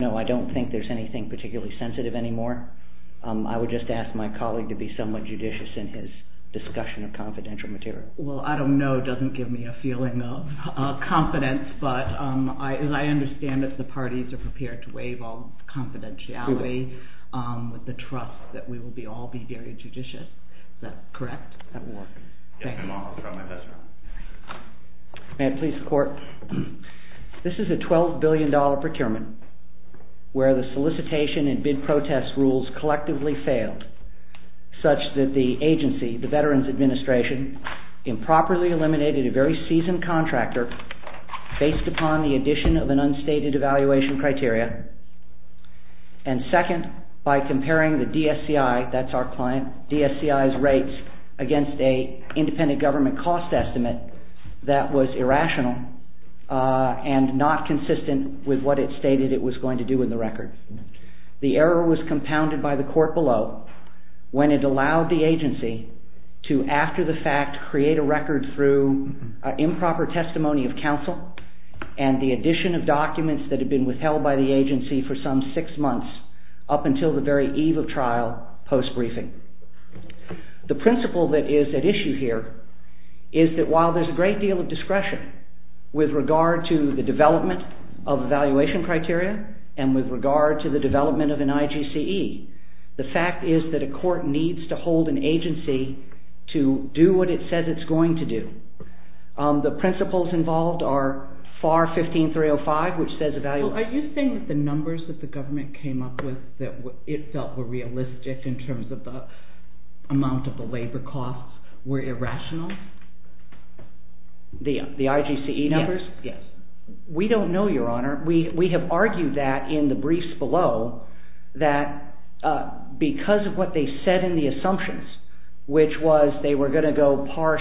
No, I don't think there's anything particularly sensitive anymore. I would just ask my colleague to be somewhat judicious in his discussion of confidential material. Well, I don't know doesn't give me a feeling of confidence, but I understand that the parties are prepared to waive all confidentiality with the trust that we will all be very judicious. Is that correct? That will work. Yes, ma'am. I'll try my best, ma'am. May I please, court? This is a $12 billion procurement. Where the solicitation and bid protest rules collectively failed such that the agency, the Veterans Administration, improperly eliminated a very seasoned contractor based upon the addition of an unstated evaluation criteria. And second, by comparing the DSCI, that's our client, DSCI's rates against a independent government cost estimate that was irrational and not consistent with what it stated it was going to do in the record. The error was compounded by the court below when it allowed the agency to after the fact create a record through improper testimony of counsel and the addition of documents that had been withheld by the agency for some six months up until the very eve of trial post-briefing. The principle that is at issue here is that while there's a great deal of discretion with regard to the development of evaluation criteria and with regard to the development of an IGCE, the fact is that a court needs to hold an agency to do what it says it's going to do. The principles involved are FAR 15305, which says evaluation... Are you saying that the numbers that the government came up with that it felt were realistic in terms of the amount of the labor costs were irrational? The IGCE numbers? Yes. We don't know, Your Honor. We have argued that in the briefs below that because of what they said in the assumptions, which was they were going to go parse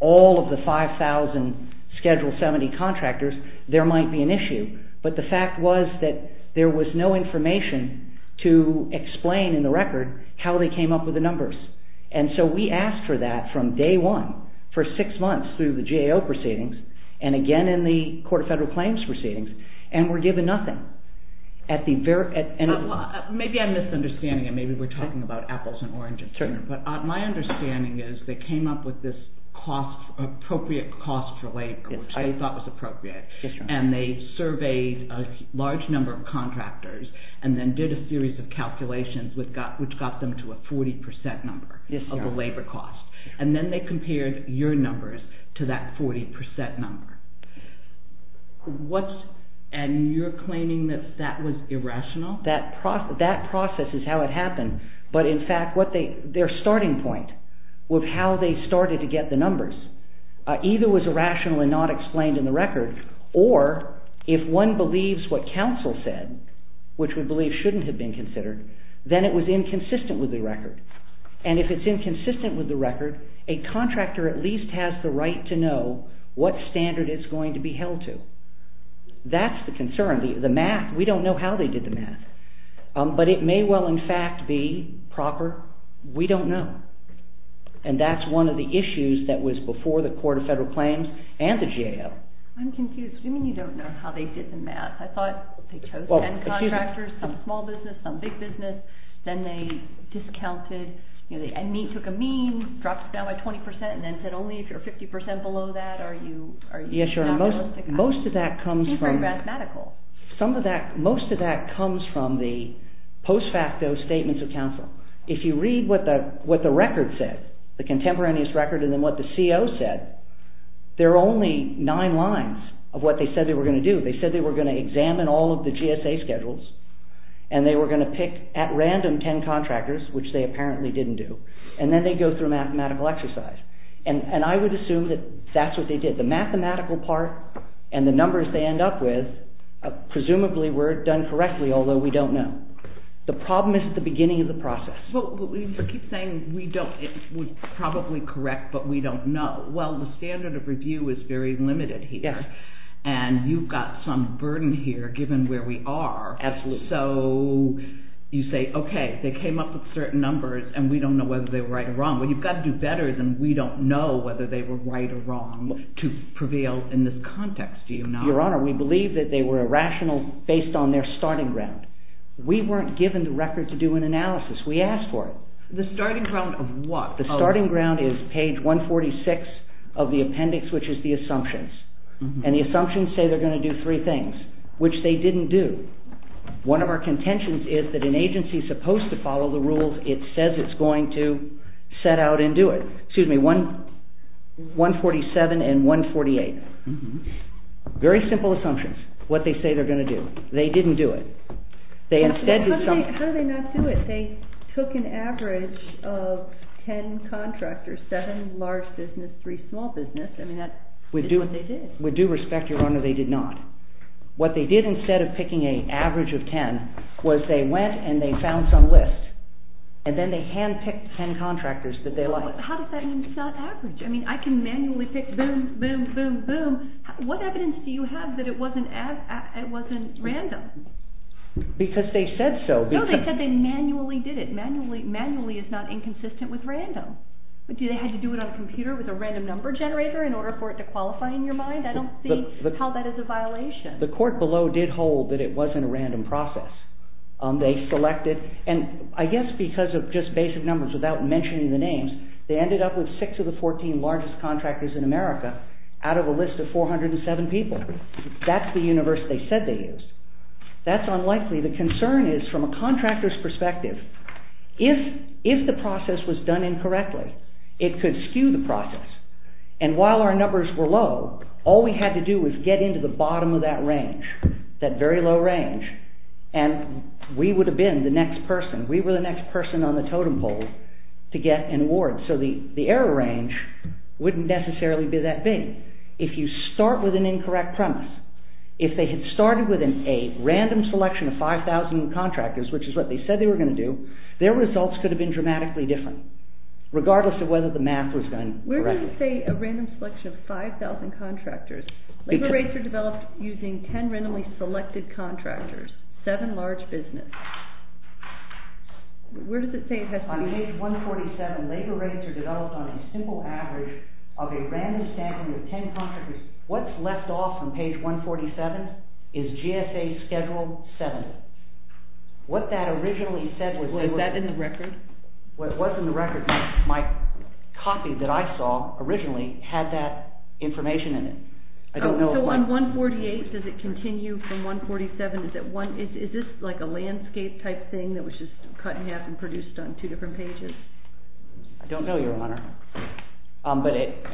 all of the 5,000 Schedule 70 contractors, there might be an issue. But the fact was that there was no information to explain in the record how they came up with the numbers. And so we asked for that from day one for six months through the GAO proceedings and again in the Court of Federal Claims proceedings, and we're given nothing. Maybe I'm misunderstanding, and maybe we're talking about apples and oranges here, but my understanding is they came up with this appropriate cost for labor, which they thought was appropriate. And they surveyed a large number of contractors and then did a series of calculations, which got them to a 40% number of the labor cost. And then they compared your numbers to that 40% number. And you're claiming that that was irrational? That process is how it happened. But in fact, their starting point with how they started to get the numbers either was irrational and not explained in the record, or if one believes what counsel said, which we believe shouldn't have been considered, then it was inconsistent with the record. And if it's inconsistent with the record, a contractor at least has the right to know what standard it's going to be held to. That's the concern. The math, we don't know how they did the math. But it may well in fact be proper. We don't know. And that's one of the issues that was before the Court of Federal Claims and the GAO. I'm confused. You mean you don't know how they did the math? I thought they chose 10 contractors, some small business, some big business. Then they discounted, took a mean, dropped it down by 20% and then said, only if you're 50% below that are you... Yes, most of that comes from the post facto statements of counsel. If you read what the record said, the contemporaneous record, and then what the CO said, there are only 9 lines of what they said they were going to do. They said they were going to examine all of the GSA schedules and they were going to pick at random 10 contractors, which they apparently didn't do. And then they go through a mathematical exercise. And I would assume that that's what they did. The mathematical part and the numbers they end up with presumably were done correctly, although we don't know. The problem is at the beginning of the process. Well, you keep saying we don't, we're probably correct, but we don't know. Well, the standard of review is very limited here. And you've got some burden here given where we are. Absolutely. So you say, okay, they came up with certain numbers and we don't know whether they were right or wrong. Well, you've got to do better than we don't know whether they were right or wrong to prevail in this context, do you not? Your Honor, we believe that they were irrational based on their starting ground. We weren't given the record to do an analysis. We asked for it. The starting ground of what? The starting ground is page 146 of the appendix, which is the assumptions. And the assumptions say they're going to do three things, which they didn't do. One of our contentions is that an agency is supposed to follow the rules. It says it's going to set out and do it. Excuse me, 147 and 148. Very simple assumptions, what they say they're going to do. They didn't do it. They instead did something. How did they not do it? They took an average of 10 contractors, seven large business, three small business. I mean, that's what they did. With due respect, Your Honor, they did not. What they did instead of picking an average of 10 was they went and they found some list and then they handpicked 10 contractors that they liked. How does that mean it's not average? I mean, I can manually pick boom, boom, boom, boom. What evidence do you have that it wasn't random? Because they said so. No, they said they manually did it manually. Manually is not inconsistent with random. But do they had to do it on a computer with a random number generator in order for it to qualify in your mind? I don't see how that is a violation. The court below did hold that it wasn't a random process. They selected and I guess because of just basic numbers without mentioning the names, they ended up with six of the 14 largest contractors in America out of a list of 407 people. That's the universe they said they used. That's unlikely. The concern is from a contractor's perspective, if the process was done incorrectly, it could skew the process. And while our numbers were low, all we had to do was get into the bottom of that range, that very low range, and we would have been the next person. We were the next person on the totem pole to get an award. So the error range wouldn't necessarily be that big. If you start with an incorrect premise, if they had started with a random selection of 5,000 contractors, which is what they said they were going to do, their results could have been dramatically different regardless of whether the math was done correctly. Where does it say a random selection of 5,000 contractors? Labor rates are developed using 10 randomly selected contractors, seven large business. Where does it say it has to be? On page 147, labor rates are developed on a simple average of a random sampling of 10 contractors. What's left off from page 147 is GSA Schedule 7. What that originally said was that... Was that in the record? Well, it was in the record. My copy that I saw originally had that information in it. I don't know if... So on 148, does it continue from 147? Is it one... Is this like a landscape type thing that was just cut in half and produced on two different pages? I don't know, Your Honor. But it...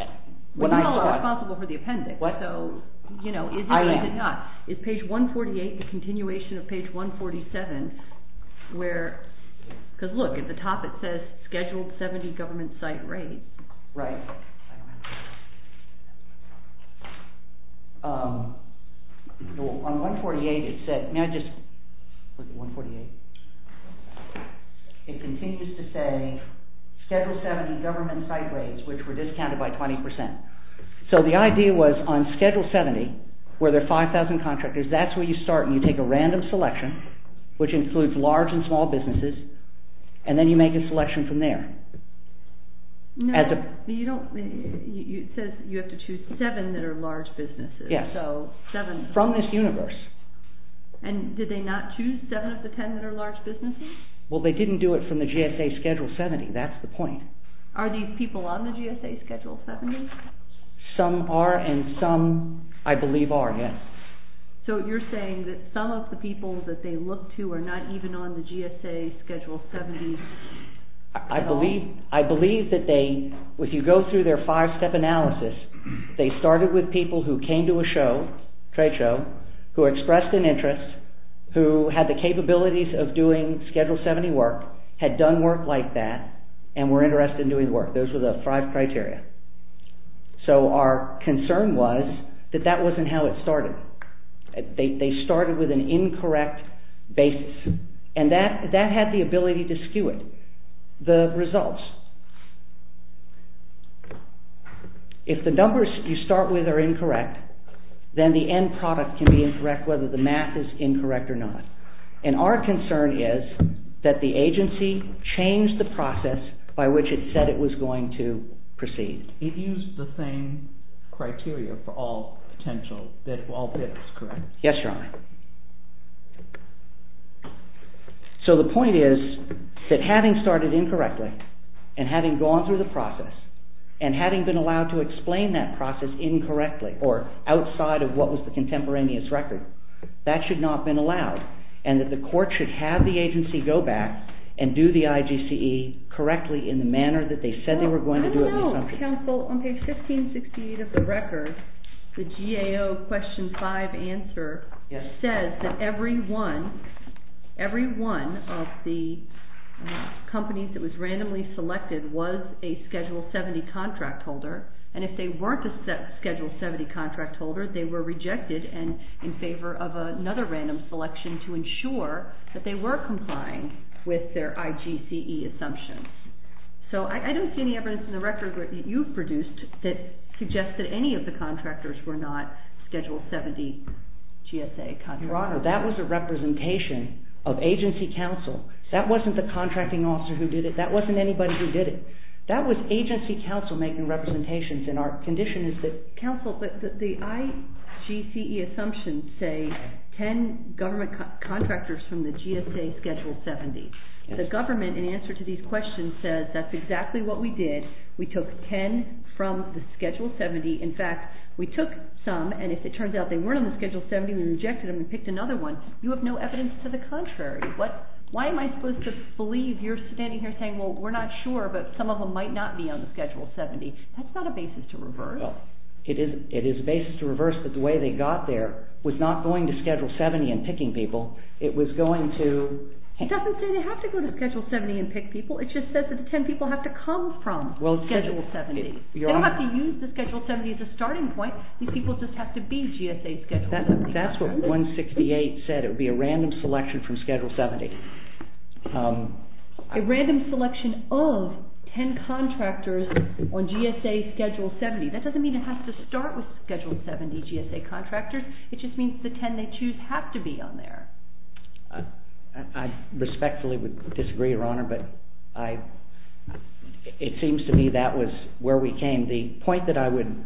We're not responsible for the appendix. What? So, you know, is it or is it not? I am. Is page 148 the continuation of page 147 where... because look, at the top it says scheduled 70 government site rate. Right. On 148, it said... May I just... 148. It continues to say scheduled 70 government site rates which were discounted by 20%. So the idea was on Schedule 70 where there are 5,000 contractors, that's where you start and you take a random selection which includes large and small businesses and then you make a selection from there. No, you don't... It says you have to choose 7 that are large businesses. Yes. So 7... From this universe. And did they not choose 7 of the 10 that are large businesses? Well, they didn't do it from the GSA Schedule 70. That's the point. Are these people on the GSA Schedule 70? Some are and some, I believe, are, yes. So you're saying that some of the people that they look to are not even on the GSA Schedule 70 at all? I believe that they, if you go through their 5-step analysis, they started with people who came to a show, trade show, who expressed an interest, who had the capabilities of doing Schedule 70 work, had done work like that, and were interested in doing work. Those were the 5 criteria. So our concern was that that wasn't how it started. They started with an incorrect basis and that had the ability to skew it, the results. If the numbers you start with are incorrect, then the end product can be incorrect whether the math is incorrect or not. And our concern is that the agency changed the process by which it said it was going to proceed. It used the same criteria for all potential, that all bits are correct. Yes, Your Honor. So the point is that having started incorrectly and having gone through the process and having been allowed to explain that process incorrectly or outside of what was the contemporaneous record, that should not have been allowed and that the court should have the agency go back and do the IGCE correctly in the manner that they said they were going to do it. I don't know, counsel. On page 1568 of the record, the GAO question 5 answer says that every one of the companies that was randomly selected was a Schedule 70 contract holder. And if they weren't a Schedule 70 contract holder, they were rejected and in favor of another random selection to ensure that they were complying with their IGCE assumptions. So I don't see any evidence in the record that you've produced that suggests that any of the contractors were not Schedule 70 GSA contractors. Your Honor, that was a representation of agency counsel. That wasn't the contracting officer who did it. That wasn't anybody who did it. That was agency counsel making representations and our condition is that... Counsel, the IGCE assumptions say 10 government contractors from the GSA Schedule 70. The government, in answer to these questions, says that's exactly what we did. We took 10 from the Schedule 70. In fact, we took some and if it turns out they weren't on the Schedule 70, we rejected them and picked another one. You have no evidence to the contrary. Why am I supposed to believe you're standing here saying, well, we're not sure, but some of them might not be on the Schedule 70. That's not a basis to reverse. It is a basis to reverse that the way they got there was not going to Schedule 70 and picking people. It was going to... It doesn't say they have to go to Schedule 70 and pick people. It just says that the 10 people have to come from Schedule 70. They don't have to use the Schedule 70 as a starting point. These people just have to be GSA Schedule 70. That's what 168 said. It would be a random selection from Schedule 70. A random selection of 10 contractors on GSA Schedule 70. That doesn't mean it has to start with Schedule 70 GSA contractors. It just means the 10 they choose have to be on there. I respectfully would disagree, Your Honor, but it seems to me that was where we came. The point that I would,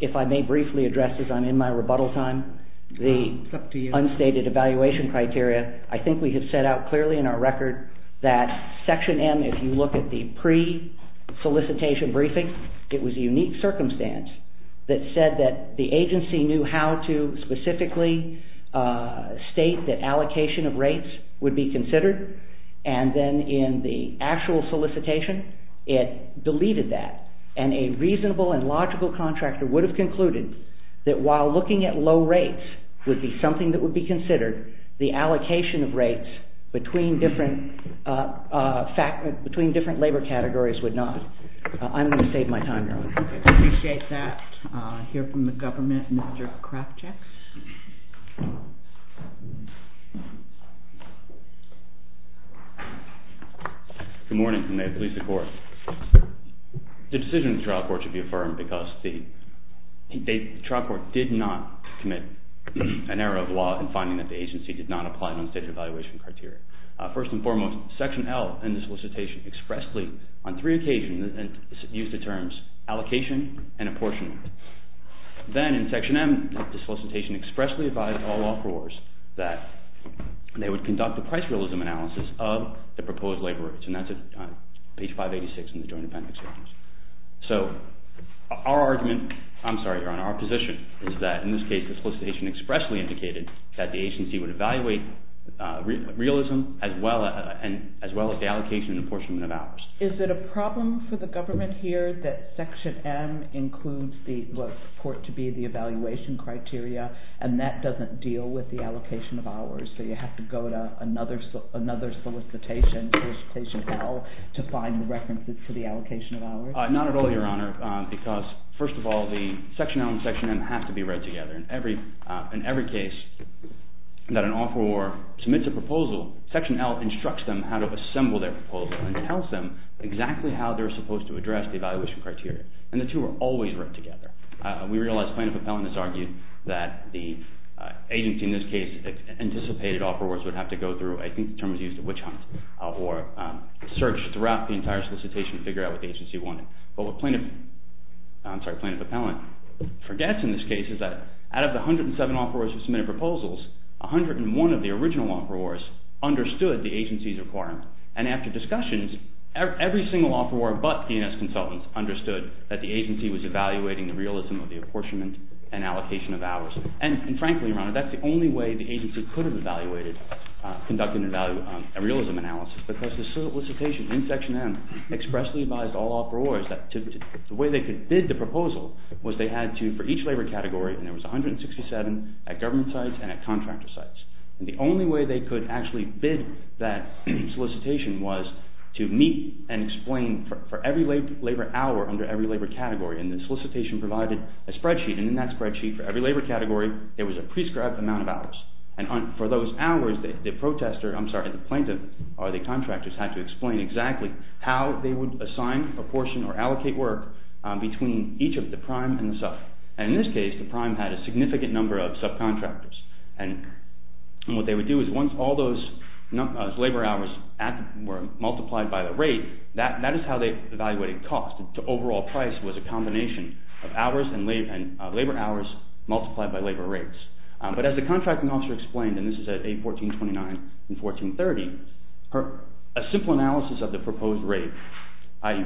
if I may briefly address as I'm in my rebuttal time, the unstated evaluation criteria, I think we have set out clearly in our record that Section M, if you look at the pre-solicitation briefing, it was a unique circumstance that said that the agency knew how to specifically state that allocation of rates would be considered. And then in the actual solicitation, it deleted that. And a reasonable and logical contractor would have concluded that while looking at low rates would be something that would be considered, the allocation of rates between different labor categories would not. I'm going to save my time, Your Honor. Okay. I appreciate that. I hear from the government, Mr. Krafchick. Good morning, and may it please the Court. The decision of the trial court should be affirmed because the trial court did not commit an error of law in finding that the agency did not apply the unstated evaluation criteria. First and foremost, Section L in the solicitation expressly on three occasions used the terms allocation and apportionment. Then in Section M, the solicitation expressly advised all law-abroaders that they would conduct a price realism analysis of the proposed labor rates, and that's on page 586 in the Joint Appendix. So our argument, I'm sorry, Your Honor, our position is that in this case, the solicitation expressly indicated that the agency would evaluate realism as well as the allocation and apportionment of hours. Is it a problem for the government here that Section M includes the, what's reported to be the evaluation criteria, and that doesn't deal with the allocation of hours? So you have to go to another solicitation, Solicitation L, to find the references for the allocation of hours? Not at all, Your Honor, because first of all, the Section L and Section M have to be read together. In every case that an offeror submits a proposal, Section L instructs them how to assemble their proposal and tells them exactly how they're supposed to address the evaluation criteria, and the two are always read together. We realize plaintiff appellant has argued that the agency in this case anticipated offerors would have to go through, I think the term is used, a witch hunt or search throughout the entire solicitation to figure out what the agency wanted. But what plaintiff, I'm sorry, plaintiff appellant forgets in this case is that out of the 107 offerors who submitted proposals, 101 of the original offerors understood the agency's requirements. And after discussions, every single offeror but DNS consultants understood that the agency was evaluating the realism of the apportionment and allocation of hours. And frankly, Your Honor, that's the only way the agency could have evaluated, conducted a realism analysis, because the solicitation in Section M expressly advised all offerors that the way they could bid the proposal was that they had to, for each labor category, and there was 167 at government sites and at contractor sites. And the only way they could actually bid that solicitation was to meet and explain for every labor hour under every labor category. And the solicitation provided a spreadsheet, and in that spreadsheet for every labor category, there was a prescribed amount of hours. And for those hours, the protester, I'm sorry, the plaintiff or the contractors had to explain exactly how they would assign, apportion, or allocate work between each of the prime and the sub. And in this case, the prime had a significant number of subcontractors. And what they would do is once all those labor hours were multiplied by the rate, that is how they evaluated cost. The overall price was a combination of hours and labor hours multiplied by labor rates. But as the contracting officer explained, and this is at 814.29 and 1430, a simple analysis of the proposed rate, i.e.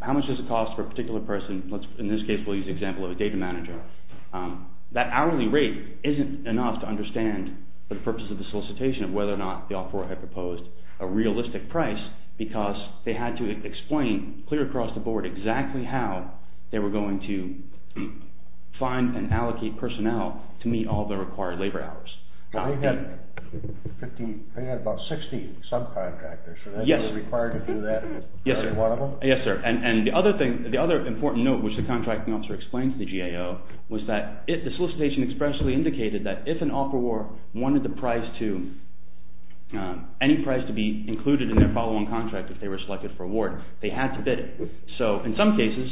how much does it cost for a particular person, in this case we'll use the example of a data manager, that hourly rate isn't enough to understand the purpose of the solicitation of whether or not the offeror had proposed a realistic price because they had to explain clear across the board exactly how they were going to find and allocate personnel to meet all the required labor hours. Now we've got 15, we've got about 16 subcontractors. Are they required to do that, every one of them? Yes, sir. And the other thing, the other important note which the contracting officer explained to the GAO was that the solicitation expressly indicated that if an offeror wanted the price to, any price to be included in their follow-on contract if they were selected for award, they had to bid it. So in some cases,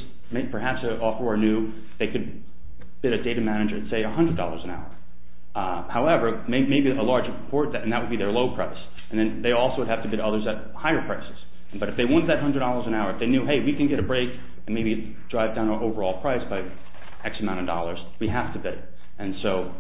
perhaps an offeror knew they could bid a data manager, say $100 an hour. However, maybe a larger report and that would be their low price and then they also would have to bid others at higher prices, but if they want that $100 an hour, if they knew, hey, we can get a break and maybe drive down our overall price by X amount of dollars, we have to bid and so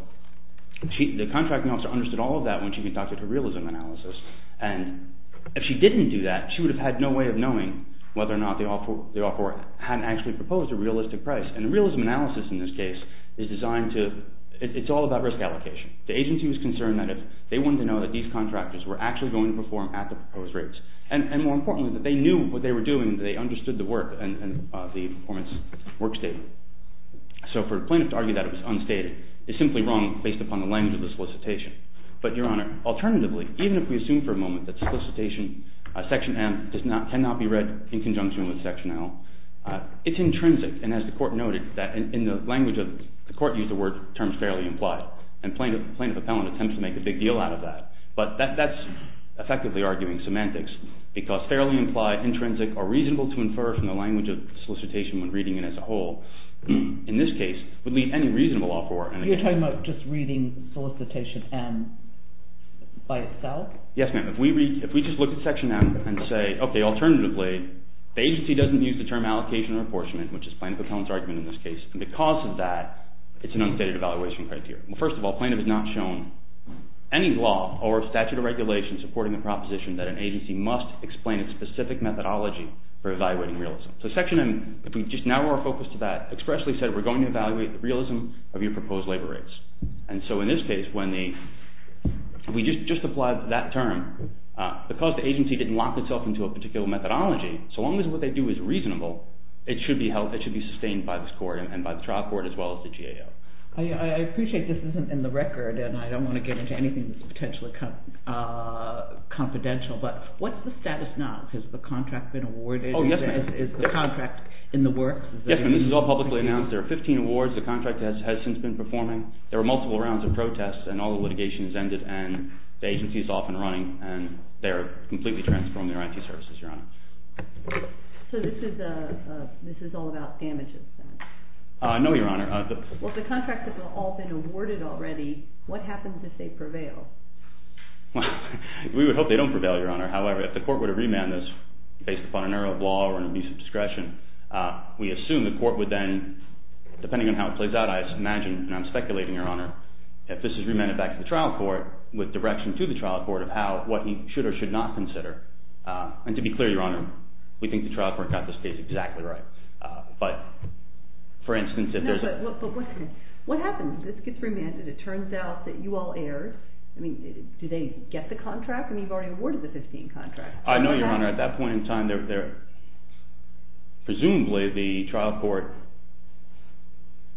the contracting officer understood all of that when she conducted her realism analysis and if she didn't do that, she would have had no way of knowing whether or not the offeror had actually proposed a realistic price and the realism analysis in this case is designed to, it's all about risk allocation. The agency was concerned that if they wanted to know that these contractors were actually going to perform at the proposed rates and more importantly, that they knew what they were doing, they understood the work and the performance work statement. So for plaintiff to argue that it was unstated is simply wrong based upon the language of the solicitation, but Your Honor, alternatively, even if we assume for a moment that solicitation section M cannot be read in conjunction with section L, it's intrinsic and as the court noted that in the language of, the court used the word terms fairly implied and plaintiff appellant attempts to make a big deal out of that, but that's effectively arguing semantics because fairly implied, intrinsic or reasonable to infer from the language of solicitation when reading it as a whole, in this case would leave any reasonable offeror. Are you talking about just reading solicitation M by itself? Yes, ma'am. If we just look at section M and say, okay, alternatively, the agency doesn't use the term allocation or apportionment which is plaintiff appellant's argument in this case and because of that, it's an unstated evaluation criteria. Well, first of all, plaintiff has not shown any law or statute of regulation supporting the proposition that an agency must explain its specific methodology for evaluating realism. So section M, if we just narrow our focus to that, expressly said we're going to evaluate the realism of your proposed labor rates and so in this case, when the, we just applied that term, because the agency didn't lock itself into a particular methodology, so long as what they do is reasonable, it should be held, it should be sustained by this court and by the trial court as well as the GAO. I appreciate this isn't in the record and I don't want to get into anything that's potentially confidential, but what's the status now? Has the contract been awarded? Oh, yes, ma'am. Is the contract in the works? Yes, ma'am. This is all publicly announced. There are 15 awards. The contract has since been performing. There are multiple rounds of protests and all the litigation has ended and the agency is off and running and they're completely transformed in their IT services, Your Honor. So this is all about damages then? No, Your Honor. Well, if the contracts have all been awarded already, what happens if they prevail? Well, we would hope they don't prevail, Your Honor. However, if the court were to remand this based upon an error of law or an abuse of discretion, we assume the court would then, depending on how it plays out, I imagine and I'm speculating, Your Honor, if this is remanded back to the trial court with direction to the trial court of what he should or should not consider. And to be clear, Your Honor, we think the trial court got this case exactly right. But for instance, if there's a... No, but what happens if this gets remanded and it turns out that you all erred? I mean, do they get the contract? I mean, you've already awarded the 15 contracts. I know, Your Honor. At that point in time, presumably the trial court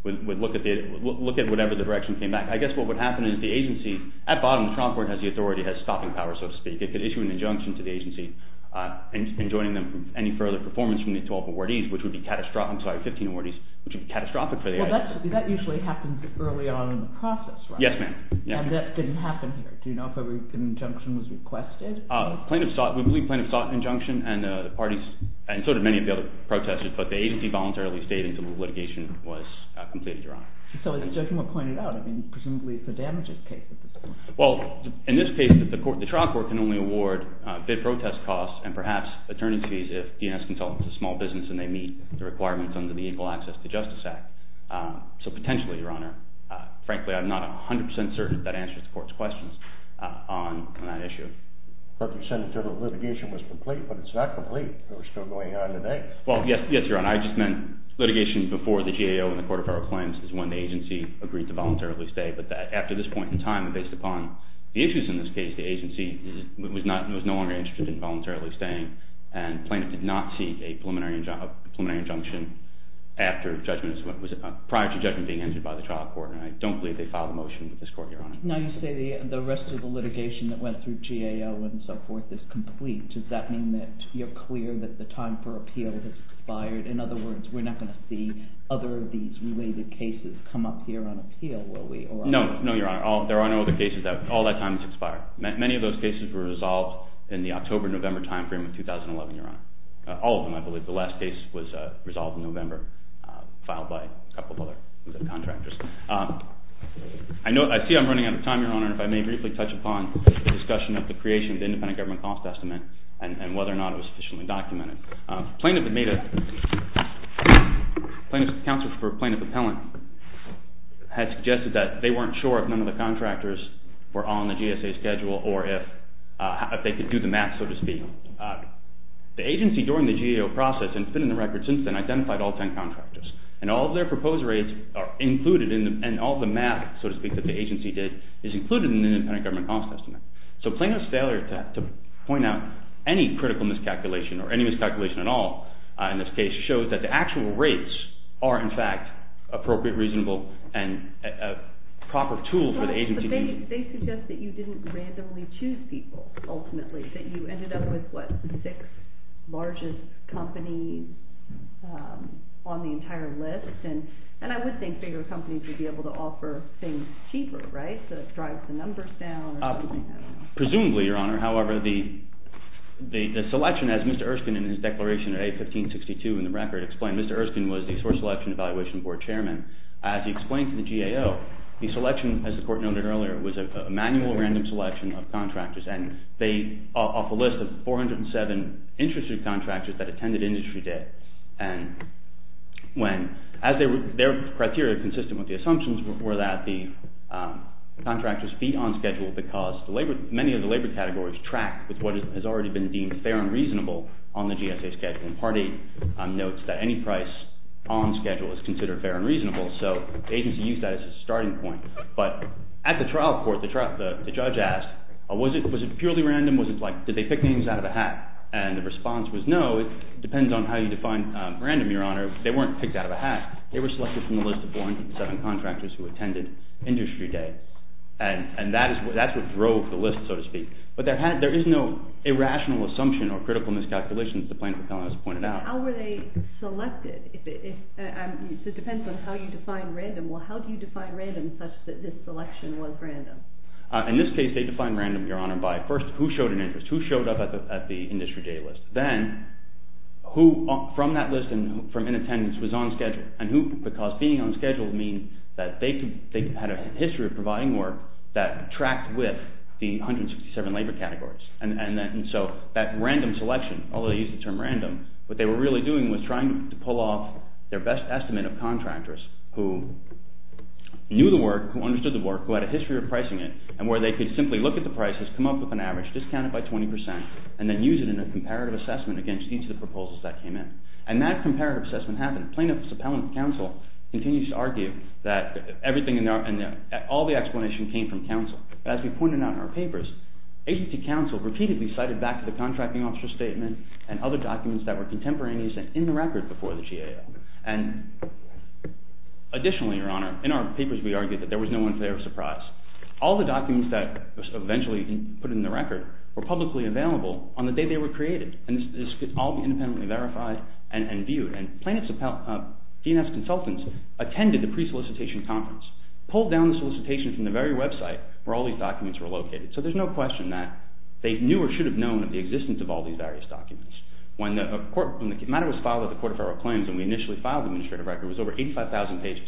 would look at whatever the direction came back. I guess what would happen is the agency, at bottom, the trial court has the authority, has stopping power, so to speak. It could issue an injunction to the agency enjoining them any further performance from the 12 awardees, which would be catastrophic. I'm sorry, 15 awardees, which would be catastrophic for the agency. Well, that usually happens early on in the process, right? Yes, ma'am. And that didn't happen here. Do you know if an injunction was requested? Plaintiff sought, we believe plaintiff sought an injunction and the parties and sort of many of the other protesters, but the agency voluntarily stayed until the litigation was completed, Your Honor. So as the judge pointed out, I mean, presumably it's a damages case at this point. Well, in this case, the trial court can only award bid protest costs and perhaps attorneys fees if DNS consultants are small business and they meet the requirements under the Equal Access to Justice Act. So potentially, Your Honor, frankly, I'm not 100% certain that answers the court's questions on that issue. But you said the litigation was complete, but it's not complete. They're still going on today. Well, yes, Your Honor. I just meant litigation before the GAO and the Court of Federal Claims is when the agency agreed to voluntarily stay. But that after this point in time, based upon the issues in this case, the agency was no longer interested in voluntarily staying. And plaintiff did not seek a preliminary injunction after judgment, prior to judgment being entered by the trial court. And I don't believe they filed a motion with this court, Your Honor. Now you say the rest of the litigation that went through GAO and so forth is complete. Does that mean that you're clear that the time for appeal has expired? In other words, we're not going to see other of these related cases come up here on appeal, will we, or not? No. No, Your Honor. There are no other cases that all that time has expired. Many of those cases were resolved in the October-November time frame of 2011, Your Honor. All of them, I believe. The last case was resolved in November, filed by a couple of other contractors. I see I'm running out of time, Your Honor, and if I may briefly touch upon the discussion of the creation of the independent government cost estimate and whether or not it was sufficiently documented. Plaintiff had made a, plaintiff's counsel for plaintiff appellant had suggested that they weren't sure if none of the contractors were on the GSA schedule or if they could do the math, so to speak. The agency during the GAO process and it's been in the record since then, identified all 10 contractors, and all of their proposed rates are included in them, and all the math, so to speak, that the agency did is included in the independent government cost estimate. So plaintiff's failure to point out any critical miscalculation or any miscalculation at all in this case shows that the actual rates are, in fact, appropriate, reasonable, and a proper tool for the agency to use. They suggest that you didn't randomly choose people, ultimately, that you ended up with what, six largest companies on the entire list, and I would think bigger companies would be able to offer things cheaper, right, to drive the numbers down or something, I don't know. Presumably, Your Honor, however, the selection, as Mr. Erskine in his declaration of A1562 in the record explained, Mr. Erskine was the source selection evaluation board chairman. As he explained to the GAO, the selection, as the court noted earlier, was a manual random selection of contractors, and they, off a list of 407 interested contractors that attended industry day, and when, as their criteria consistent with the assumptions were that the contractors be on schedule because the labor, many of the labor categories track with what has already been deemed fair and reasonable on the GSA schedule, and Part 8 notes that any price on schedule is considered fair and reasonable, so the agency used that as a starting point, but at the trial court, the judge asked, was it purely random, was it like, did they pick names out of a hat, and the response was, no, it depends on how you define random, Your Honor, they weren't picked out of a hat. They were selected from a list of 407 contractors who attended industry day, and that's what drove the list, so to speak, but there is no irrational assumption or critical miscalculation, as the plaintiff has pointed out. How were they selected, it depends on how you define random, well, how do you define random such that this selection was random? In this case, they define random, Your Honor, by first, who showed an interest, who showed up at the industry day list, then, who, from that list and from in attendance, was on schedule, and who, because being on schedule means that they had a history of providing work that tracked with the 167 labor categories, and so that random selection, although they used the term random, what they were really doing was trying to pull off their best estimate of contractors who knew the work, who understood the work, who had a history of pricing it, and where they could simply look at the prices, come up with an average, discount it by 20%, and then use it in a comparative assessment against each of the proposals that came in, and that comparative assessment happened. Plaintiff's appellant counsel continues to argue that everything in there, and that all the explanation came from counsel, but as we pointed out in our papers, agency counsel repeatedly cited back to the contracting officer's statement and other documents that were contemporaneous and in the record before the GAO, and additionally, Your Honor, in our papers, we argued that there was no one fair surprise. All the documents that were eventually put in the record were publicly available on the day they were created, and this could all be independently verified and viewed, and plaintiff's appellant DNS consultants attended the pre-solicitation conference, pulled down the solicitation from the very website where all these documents were located. So there's no question that they knew or should have known of the existence of all these various documents. When the matter was filed at the Court of Federal Claims, and we initially filed the administrative record, it was over 85,000 pages,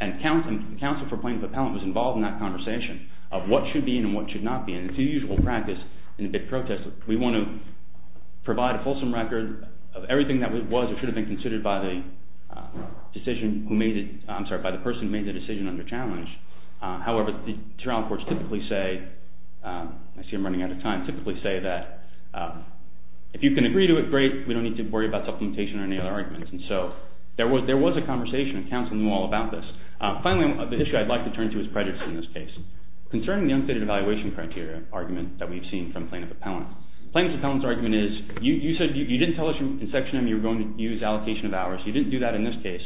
and counsel for plaintiff's appellant was involved in that conversation of what should be and what should not be, and it's the usual practice in a bid protest. We want to provide a fulsome record of everything that was or should have been considered by the decision who made it, I'm sorry, by the person who made the decision under challenge. However, the trial courts typically say, I see I'm running out of time, typically say that if you can agree to it, great, we don't need to worry about supplementation or any other arguments. And so there was a conversation, and counsel knew all about this. Finally, the issue I'd like to turn to is prejudice in this case. Concerning the unfitted evaluation criteria argument that we've seen from plaintiff's appellant, plaintiff's appellant's argument is, you said, you didn't tell us in section M you were going to use allocation of hours, you didn't do that in this case,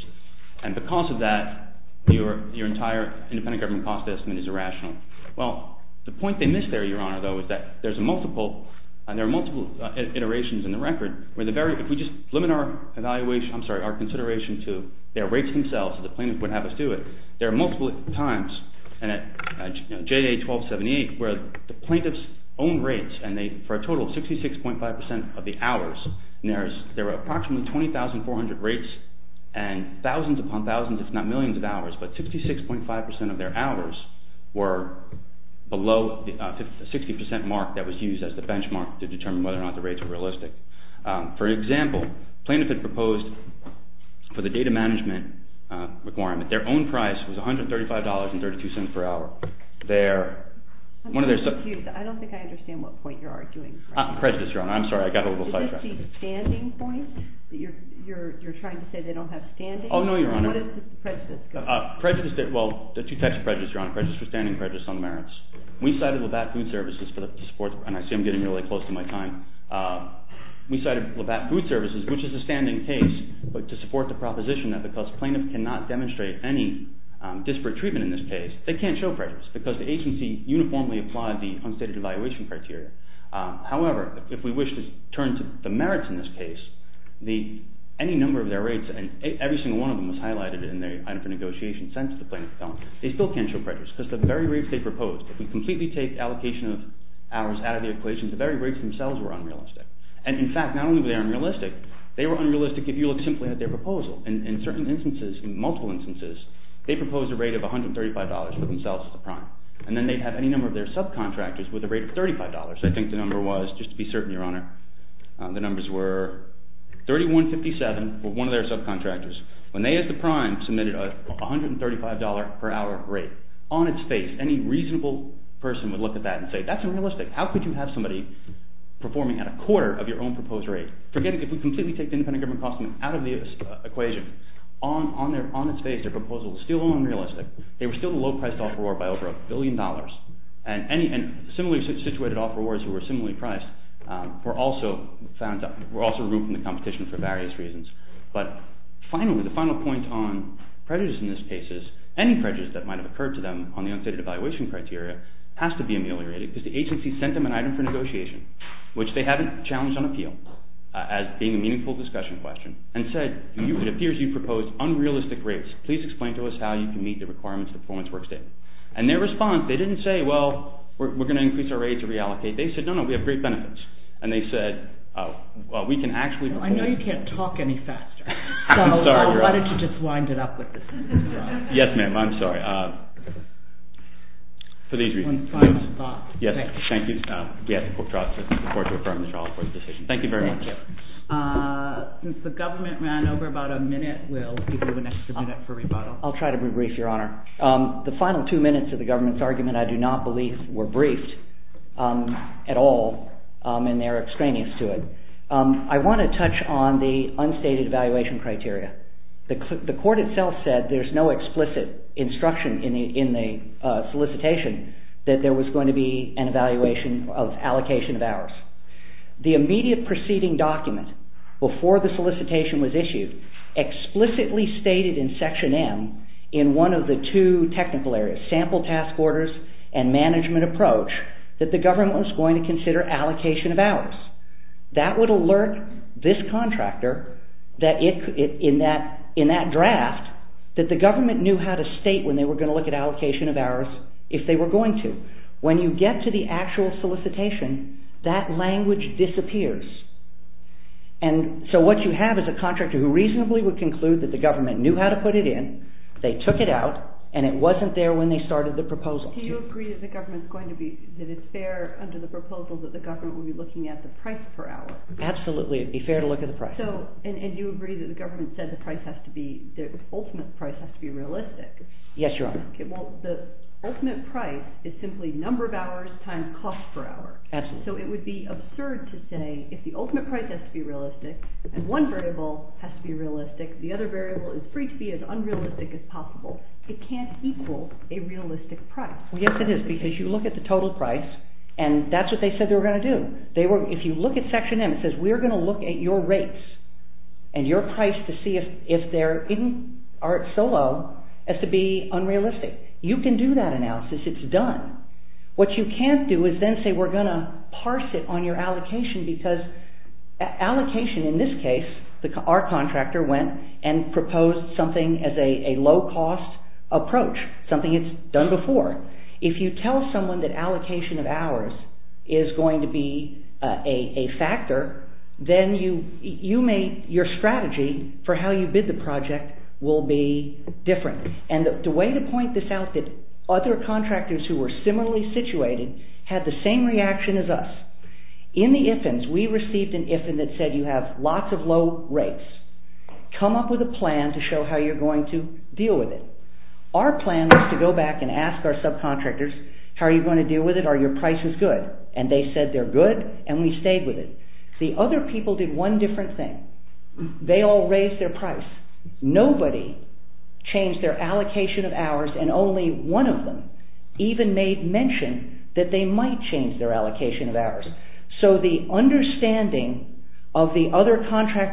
and because of that, your entire independent government cost estimate is irrational. Well, the point they missed there, Your Honor, though, is that there's a multiple, and there are multiple iterations in the record where the very, if we just limit our evaluation, I'm sorry, our consideration to their rates themselves, the plaintiff would have us do it, there are multiple times, and at, you know, JA 1278, where the plaintiff's own rates, and they, for a total of 66.5% of the hours, and there's, there were approximately 20,400 rates, and thousands upon thousands, if not millions of hours, but 66.5% of their hours were below the 60% mark that was used as the benchmark to determine whether or not the rates were realistic. For example, plaintiff had proposed for the data management requirement, their own price was $135.32 per hour. They're, one of their. I don't think I understand what point you're arguing. Prejudice, Your Honor, I'm sorry, I got a little sidetracked. Is this the standing point, that you're trying to say they don't have standing? Oh, no, Your Honor. What is the prejudice? Prejudice, well, there are two types of prejudice, Your Honor, prejudice for standing, prejudice on merits. We cited LAVAT food services for the support, and I see I'm getting really close to my time. We cited LAVAT food services, which is a standing case, but to support the proposition that because plaintiff cannot demonstrate any disparate treatment in this case, they can't show prejudice, because the agency uniformly applied the unstated evaluation criteria. However, if we wish to turn to the merits in this case, the, any number of their rates, and every single one of them was highlighted in the item for negotiation sent to the plaintiff's office, they still can't show prejudice, because the very rates they proposed, if we completely take allocation of hours out of the equation, the very rates themselves were unrealistic, and in fact, not only were they unrealistic, they were unrealistic if you look simply at their proposal. In certain instances, in multiple instances, they proposed a rate of $135 for themselves as a prime, and then they'd have any number of their subcontractors with a rate of $35. I think the number was, just to be certain, Your Honor, the numbers were 3157 for one of their subcontractors, when they as the prime submitted a $135 per hour rate. On its face, any reasonable person would look at that and say, that's unrealistic. How could you have somebody performing at a quarter of your own proposed rate? Forget it, if we completely take the independent government cost out of the equation, on its face, their proposal is still unrealistic. They were still the low-priced offeror by over a billion dollars, and similarly situated offerors who were similarly priced were also found, were also removed from the competition for various reasons. But finally, the final point on prejudice in this case is, any prejudice that might have occurred to them on the unstated evaluation criteria has to be ameliorated, because the agency sent them an item for negotiation, which they haven't challenged on appeal, as being a meaningful discussion question, and said, it appears you've proposed unrealistic rates. Please explain to us how you can meet the requirements of the performance work statement. And their response, they didn't say, well, we're going to increase our rate to reallocate. They said, no, no, we have great benefits. And they said, well, we can actually perform. I know you can't talk any faster. So why don't you just wind it up with this? Yes, ma'am, I'm sorry. For these reasons, yes, thank you. Yes, I look forward to affirming the trial court's decision. Thank you very much. Since the government ran over about a minute, we'll give you the next minute for rebuttal. I'll try to be brief, Your Honor. The final two minutes of the government's argument, I do not believe, were briefed at all, and they're extraneous to it. I want to touch on the unstated evaluation criteria. The court itself said there's no explicit instruction in the solicitation that there was going to be an evaluation of allocation of hours. The immediate preceding document before the solicitation was issued explicitly stated in Section M in one of the two technical areas, sample task orders and management approach, that the government was going to consider allocation of hours. That would alert this contractor that in that draft that the government knew how to state when they were going to look at allocation of hours if they were going to. When you get to the actual solicitation, that language disappears. And so what you have is a contractor who reasonably would conclude that the government knew how to put it in, they took it out, and it wasn't there when they started the proposal. Do you agree that the government's going to be, that it's fair under the proposal that the government will be looking at the price per hour? Absolutely, it'd be fair to look at the price. So, and you agree that the government said the price has to be, the ultimate price has to be realistic. Yes, Your Honor. Okay, well, the ultimate price is simply number of hours times cost per hour. Absolutely. So it would be absurd to say if the ultimate price has to be realistic, and one variable has to be realistic, the other variable is free to be as unrealistic as possible. It can't equal a realistic price. Yes, it is, because you look at the total price, and that's what they said they were going to do. They were, if you look at Section M, it says we're going to look at your rates and your price to see if they're so low as to be unrealistic. You can do that analysis. It's done. What you can't do is then say we're going to parse it on your allocation, because allocation in this case, our contractor went and proposed something as a low-cost approach, something it's done before. If you tell someone that allocation of hours is going to be a factor, then you may, your strategy for how you bid the project will be different. And the way to point this out that other contractors who were similarly situated had the same reaction as us, in the IFNs, we received an IFN that said you have lots of low rates. Come up with a plan to show how you're going to deal with it. Our plan was to go back and ask our subcontractors, how are you going to deal with it? Are your prices good? And they said they're good, and we stayed with it. The other people did one different thing. They all raised their price. Nobody changed their allocation of hours, and only one of them even made mention that they might change their allocation of hours. So the understanding of the other contractors.